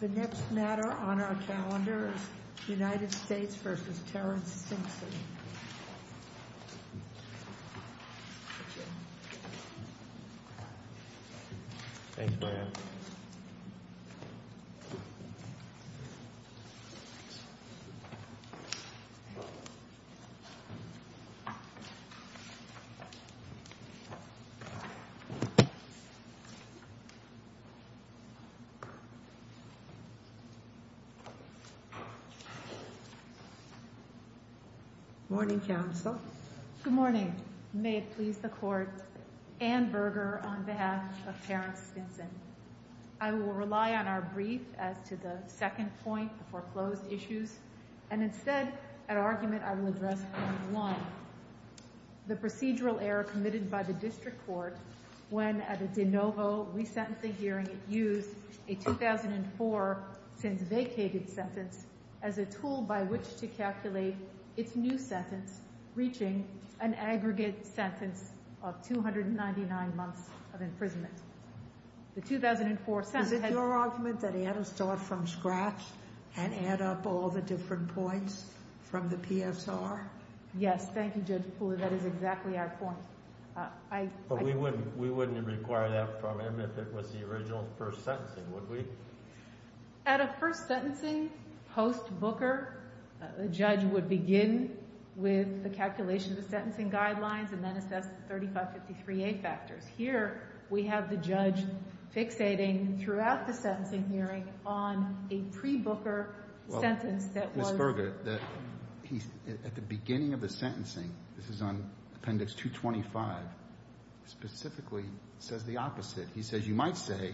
The next matter on our calendar is U.S. v. Terrence Stinson. Good morning. May it please the Court, Anne Berger on behalf of Terrence Stinson. I will rely on our brief as to the second point, the foreclosed issues, and instead an argument I will address point one, the procedural error committed by the District Court when at a 2004-since-vacated sentence as a tool by which to calculate its new sentence, reaching an aggregate sentence of 299 months of imprisonment. The 2004 sentence had— Is it your argument that he had to start from scratch and add up all the different points from the PSR? Yes. Thank you, Judge Poole. That is exactly our point. But we wouldn't require that from him if it was the original first sentencing, would we? At a first sentencing post-Booker, the judge would begin with the calculation of the sentencing guidelines and then assess the 3553A factors. Here, we have the judge fixating throughout the sentencing hearing on a pre-Booker sentence that was— specifically says the opposite. He says, you might say,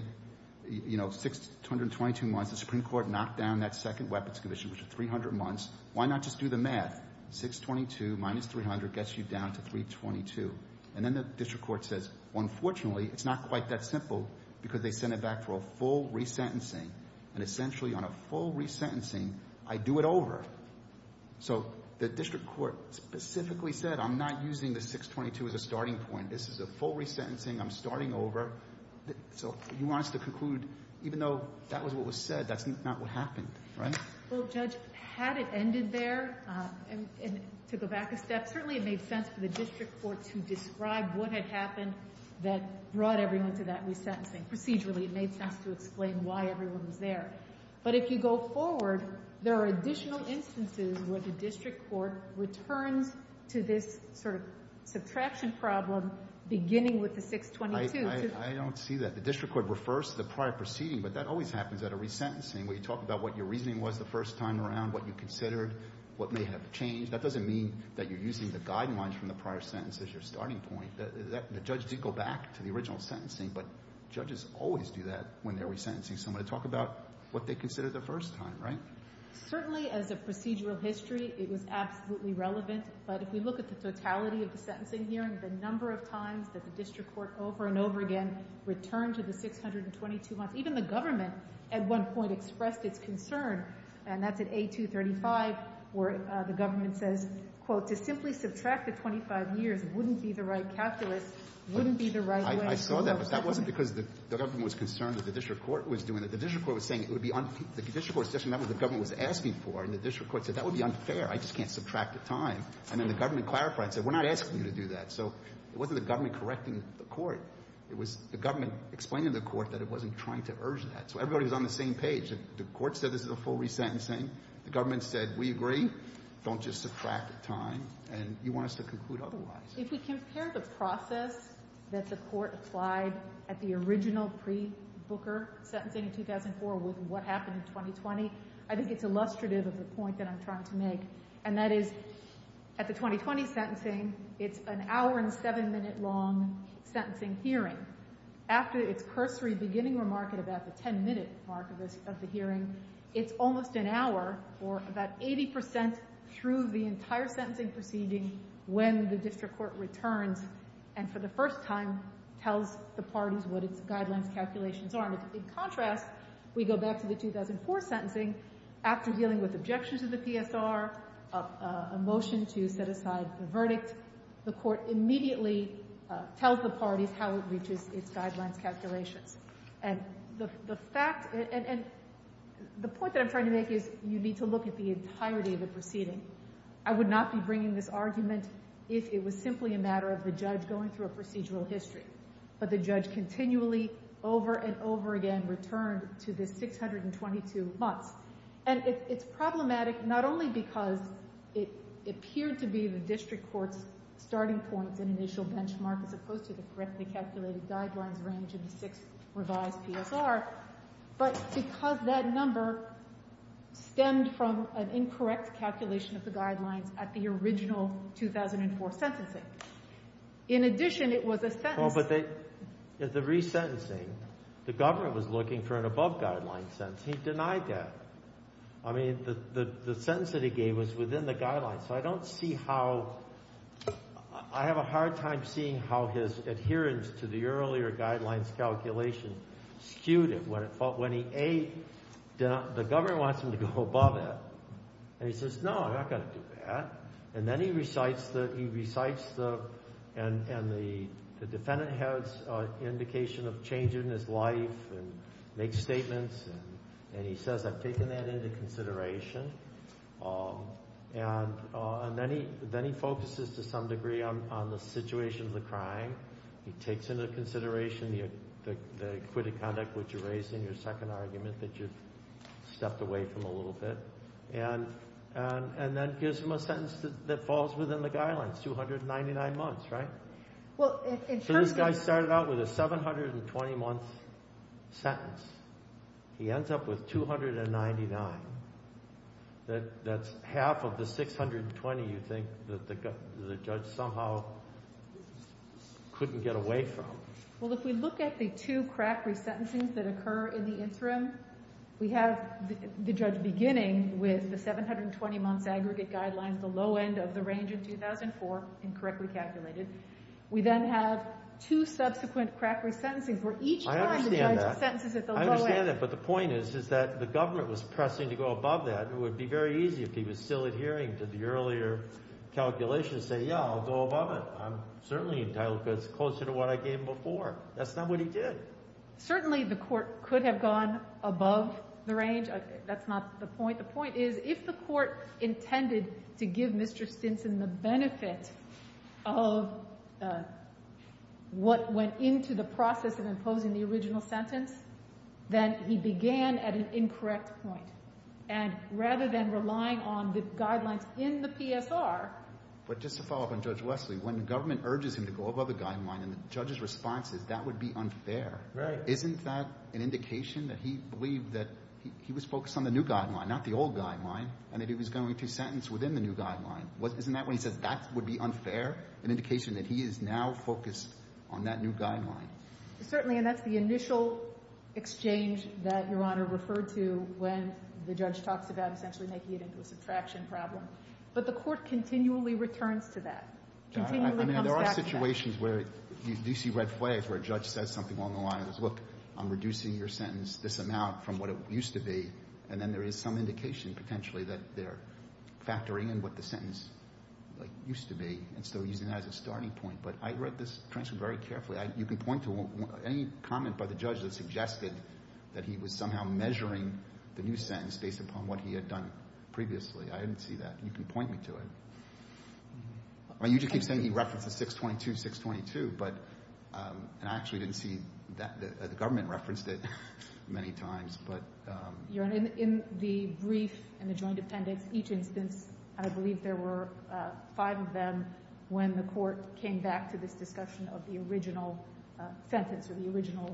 you know, 622 months, the Supreme Court knocked down that second weapons condition, which is 300 months. Why not just do the math? 622 minus 300 gets you down to 322. And then the District Court says, unfortunately, it's not quite that simple because they sent it back for a full resentencing. And essentially, on a full resentencing, I do it over. So the District Court specifically said, I'm not using the 622 as a starting point. This is a full resentencing. I'm starting over. So he wants to conclude, even though that was what was said, that's not what happened, right? Well, Judge, had it ended there, to go back a step, certainly it made sense for the District Court to describe what had happened that brought everyone to that resentencing. Procedurally, it made sense to explain why everyone was there. But if you go forward, there are additional instances where the District Court returns to this sort of subtraction problem, beginning with the 622. I don't see that. The District Court refers to the prior proceeding, but that always happens at a resentencing, where you talk about what your reasoning was the first time around, what you considered, what may have changed. That doesn't mean that you're using the guidelines from the prior sentence as your starting point. The judge did go back to the original sentencing, but judges always do that when they're resentencing someone, to talk about what they considered the first time, right? Certainly, as a procedural history, it was absolutely relevant. But if we look at the totality of the sentencing hearing, the number of times that the District Court over and over again returned to the 622 months, even the government at one point expressed its concern, and that's at 8-235, where the government says, quote, to simply subtract the 25 years wouldn't be the right calculus, wouldn't be the right way. And the reason I saw that was that wasn't because the government was concerned that the District Court was doing it. The District Court was saying it would be unfair. The District Court was just remembering what the government was asking for, and the District Court said that would be unfair. I just can't subtract the time. And then the government clarified and said, we're not asking you to do that. So it wasn't the government correcting the court. It was the government explaining to the court that it wasn't trying to urge that. So everybody was on the same page. The court said this is a full resentencing. The government said, we agree. Don't just subtract the time. And you want us to conclude otherwise. If we compare the process that the court applied at the original pre-Booker sentencing in 2004 with what happened in 2020, I think it's illustrative of the point that I'm trying to make. And that is, at the 2020 sentencing, it's an hour and seven-minute long sentencing hearing. After its cursory beginning remark at about the ten-minute mark of the hearing, it's almost an hour, or about 80 percent through the entire sentencing proceeding when the District Court returns and, for the first time, tells the parties what its guidelines calculations are. In contrast, we go back to the 2004 sentencing. After dealing with objections to the PSR, a motion to set aside the verdict, the court immediately tells the parties how it reaches its guidelines calculations. And the fact — and the point that I'm trying to make is you need to look at the entirety of the proceeding. I would not be bringing this argument if it was simply a matter of the judge going through a procedural history. But the judge continually, over and over again, returned to the 622 months. And it's problematic not only because it appeared to be the District Court's starting point, an initial benchmark, as opposed to the correctly calculated guidelines range in the sixth revised PSR, but because that number stemmed from an incorrect calculation of the guidelines at the original 2004 sentencing. In addition, it was a sentence — Oh, but the resentencing, the government was looking for an above-guidelines sentence. He denied that. I mean, the sentence that he gave was within the guidelines. So I don't see how — I have a hard time seeing how his adherence to the earlier guidelines calculations skewed it. When he — A, the government wants him to go above it. And he says, no, I'm not going to do that. And then he recites the — he recites the — and the defendant has an indication of changing his life and makes statements. And he says, I've taken that into consideration. And then he focuses, to some degree, on the situation of the crime. He takes into consideration the acquitted conduct, which you raised in your second argument, that you've stepped away from a little bit. And then gives him a sentence that falls within the guidelines, 299 months, right? Well, in terms of — So this guy started out with a 720-month sentence. He ends up with 299. That's half of the 620 you think that the judge somehow couldn't get away from. Well, if we look at the two crack resentencings that occur in the interim, we have the judge beginning with the 720-month aggregate guidelines, the low end of the range in 2004, incorrectly calculated. We then have two subsequent crack resentencings where each time the judge — I understand that. — sentences at the low end. I understand that. But the point is, is that the government was pressing to go to the earlier calculation and say, yeah, I'll go above it. I'm certainly entitled because it's closer to what I gave him before. That's not what he did. Certainly the court could have gone above the range. That's not the point. The point is, if the court intended to give Mr. Stinson the benefit of what went into the process of imposing the original sentence, then he began at an incorrect point. And rather than relying on the guidelines in the PSR — But just to follow up on Judge Wesley, when government urges him to go above the guideline and the judge's response is that would be unfair — Right. — isn't that an indication that he believed that he was focused on the new guideline, not the old guideline, and that he was going to sentence within the new guideline? Isn't that when he says that would be unfair, an indication that he is now focused on that new guideline? Certainly. And that's the initial exchange that Your Honor referred to when the judge talks about essentially making it into a subtraction problem. But the court continually returns to that, continually comes back to that. I mean, there are situations where you see red flags where a judge says something along the lines of, look, I'm reducing your sentence this amount from what it used to be, and then there is some indication potentially that they're factoring in what the sentence, like, used to be and still using that as a starting point. But I read this transcript very carefully. You can point to any comment by the judge that suggested that he was somehow measuring the new sentence based upon what he had done previously. I didn't see that. You can point me to it. I mean, you just keep saying he referenced the 622-622, but — and I actually didn't see that. The government referenced it many times, but — Your Honor, in the brief and the joint appendix, each instance, I believe there were five of them when the court came back to this discussion of the original sentence or the original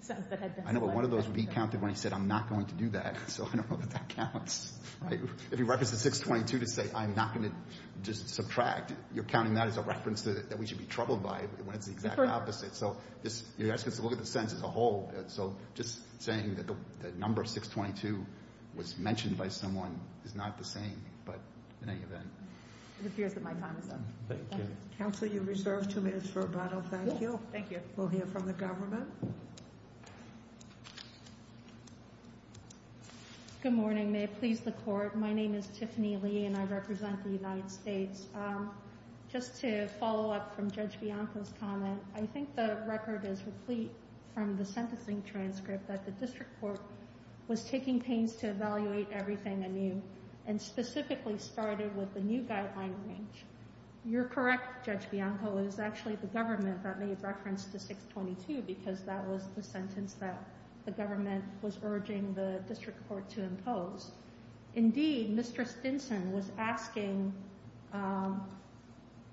sentence that had been selected. I know, but one of those would be counted when he said, I'm not going to do that. So I don't know that that counts. Right? If he referenced the 622 to say, I'm not going to just subtract, you're counting that as a reference that we should be troubled by when it's the exact opposite. So you're asking us to look at the sentence as a whole. So just saying that the number 622 was mentioned by someone is not the same, but in any event. It appears that my time is up. Thank you. Counsel, you're reserved two minutes for a bottle. Thank you. Thank you. We'll hear from the government. Good morning. May it please the Court. My name is Tiffany Lee, and I represent the United States. Just to follow up from Judge Bianco's comment, I think the record is complete from the sentencing transcript that the district court was taking pains to evaluate everything anew and specifically started with the new guideline range. You're correct, Judge Bianco. It was actually the government that made reference to 622 because that was the sentence that the government was urging the district court to impose. Indeed, Mr. Stinson was asking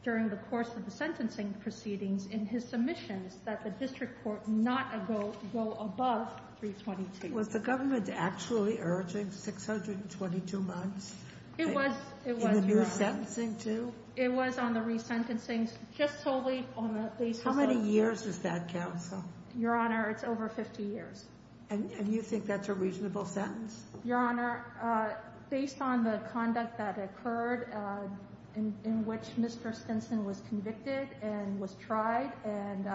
during the course of the sentencing proceedings in his submissions that the district court not go above 322. Was the government actually urging 622 months? It was. In the new sentencing, too? It was on the resentencing, just totally on the basis of... How many years is that, Counsel? Your Honor, it's over 50 years. And you think that's a reasonable sentence? Your Honor, based on the conduct that occurred in which Mr. Stinson was convicted and was tried and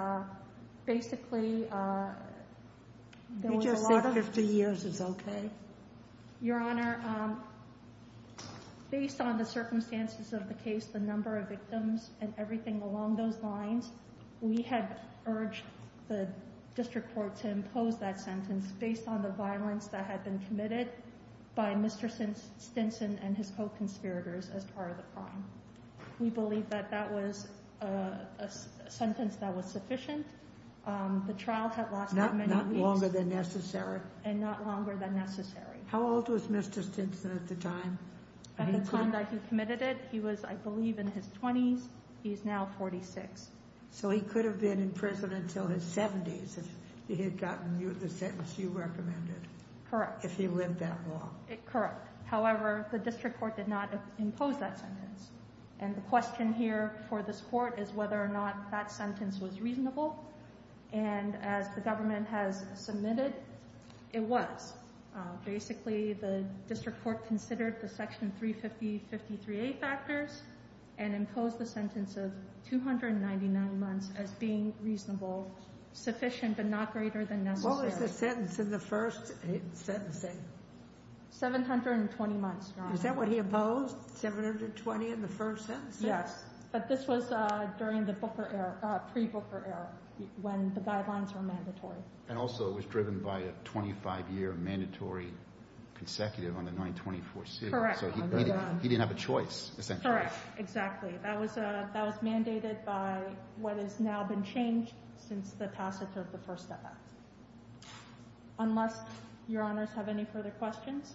basically... Did you say 50 years is okay? Your Honor, based on the circumstances of the case, the number of victims, and everything along those lines, we had urged the district court to impose that sentence based on the violence that had been committed by Mr. Stinson and his co-conspirators as part of the crime. We believe that that was a sentence that was sufficient. The trial had lasted many weeks. Not longer than necessary? And not longer than necessary. How old was Mr. Stinson at the time? At the time that he committed it, he was, I believe, in his 20s. He is now 46. So he could have been in prison until his 70s if he had gotten the sentence you recommended. Correct. If he lived that long. Correct. However, the district court did not impose that sentence. And the question here for this Court is whether or not that sentence was reasonable. And as the government has submitted, it was. Basically, the district court considered the Section 350-53A factors and imposed the sentence of 299 months as being reasonable, sufficient, but not greater than necessary. What was the sentence in the first sentencing? 720 months, Your Honor. Is that what he opposed? 720 in the first sentencing? Yes. But this was during the pre-Booker era when the guidelines were mandatory. And also it was driven by a 25-year mandatory consecutive on the 924C. Correct. So he didn't have a choice. Correct. Exactly. That was mandated by what has now been changed since the passage of the FIRST Act. Unless Your Honors have any further questions,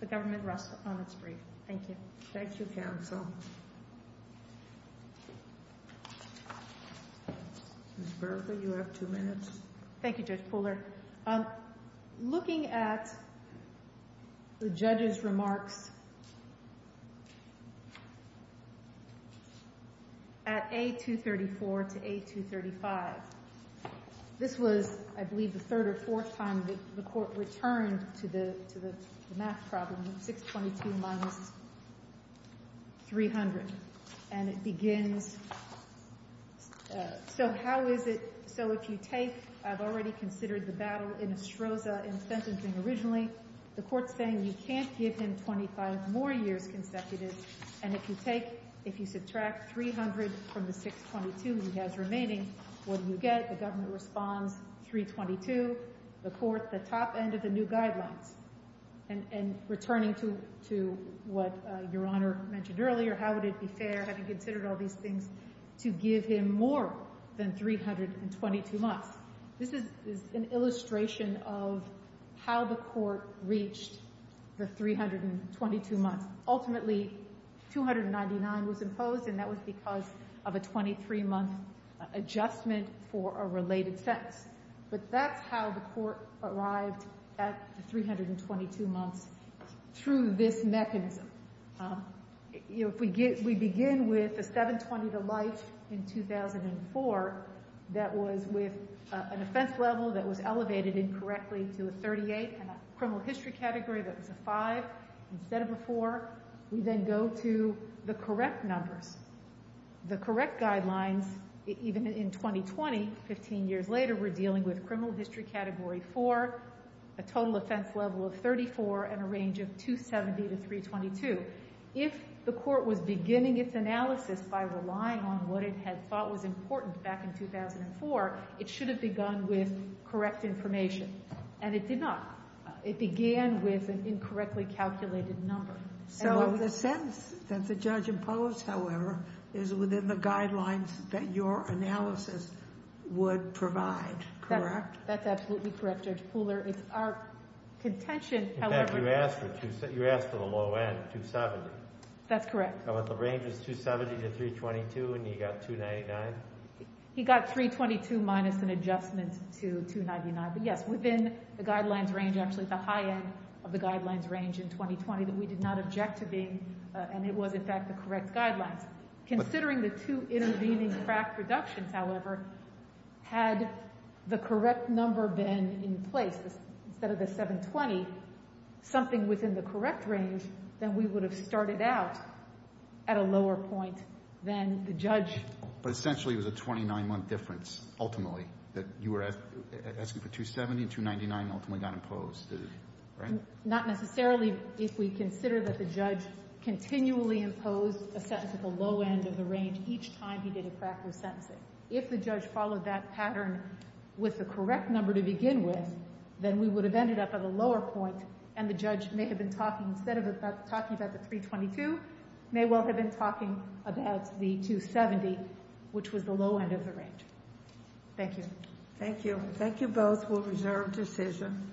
the government rests on its brief. Thank you. Thank you, Counsel. Ms. Bertha, you have two minutes. Thank you, Judge Pooler. Looking at the judge's remarks at A234 to A235, this was, I believe, the third or fourth time that the court returned to the math problem, 622 minus 300. And it begins, so how is it? So if you take, I've already considered the battle in Estroza in sentencing originally, the court's saying you can't give him 25 more years consecutive. And if you subtract 300 from the 622 he has remaining, what do you get? The government responds, 322. The court, the top end of the new guidelines. And returning to what Your Honor mentioned earlier, how would it be fair, having considered all these things, to give him more than 322 months? This is an illustration of how the court reached the 322 months. Ultimately, 299 was imposed, and that was because of a 23-month adjustment for a related sentence. But that's how the court arrived at the 322 months, through this mechanism. If we begin with a 720 to Leif in 2004, that was with an offense level that was elevated incorrectly to a 38, and a criminal history category that was a 5 instead of a 4, we then go to the correct numbers. The correct guidelines, even in 2020, 15 years later, we're dealing with criminal history category 4, a total offense level of 34, and a range of 270 to 322. If the court was beginning its analysis by relying on what it had thought was important back in 2004, it should have begun with correct information. And it did not. It began with an incorrectly calculated number. So the sentence that the judge imposed, however, is within the guidelines that your analysis would provide, correct? That's absolutely correct, Judge Pooler. It's our contention, however— You asked for the low end, 270. That's correct. The range is 270 to 322, and you got 299? He got 322 minus an adjustment to 299. But yes, within the guidelines range, actually the high end of the guidelines range in 2020, that we did not object to being—and it was, in fact, the correct guidelines. Considering the two intervening tract reductions, however, had the correct number been in place instead of the 720, something within the correct range, then we would have started out at a lower point than the judge. But essentially it was a 29-month difference, ultimately, that you were asking for 270 and 299 ultimately got imposed, right? Not necessarily if we consider that the judge continually imposed a sentence at the low end of the range each time he did a cracker sentencing. If the judge followed that pattern with the correct number to begin with, then we would have ended up at a lower point, and the judge may have been talking—instead of talking about the 322, may well have been talking about the 270, which was the low end of the range. Thank you. Thank you. Thank you both for a reserved decision.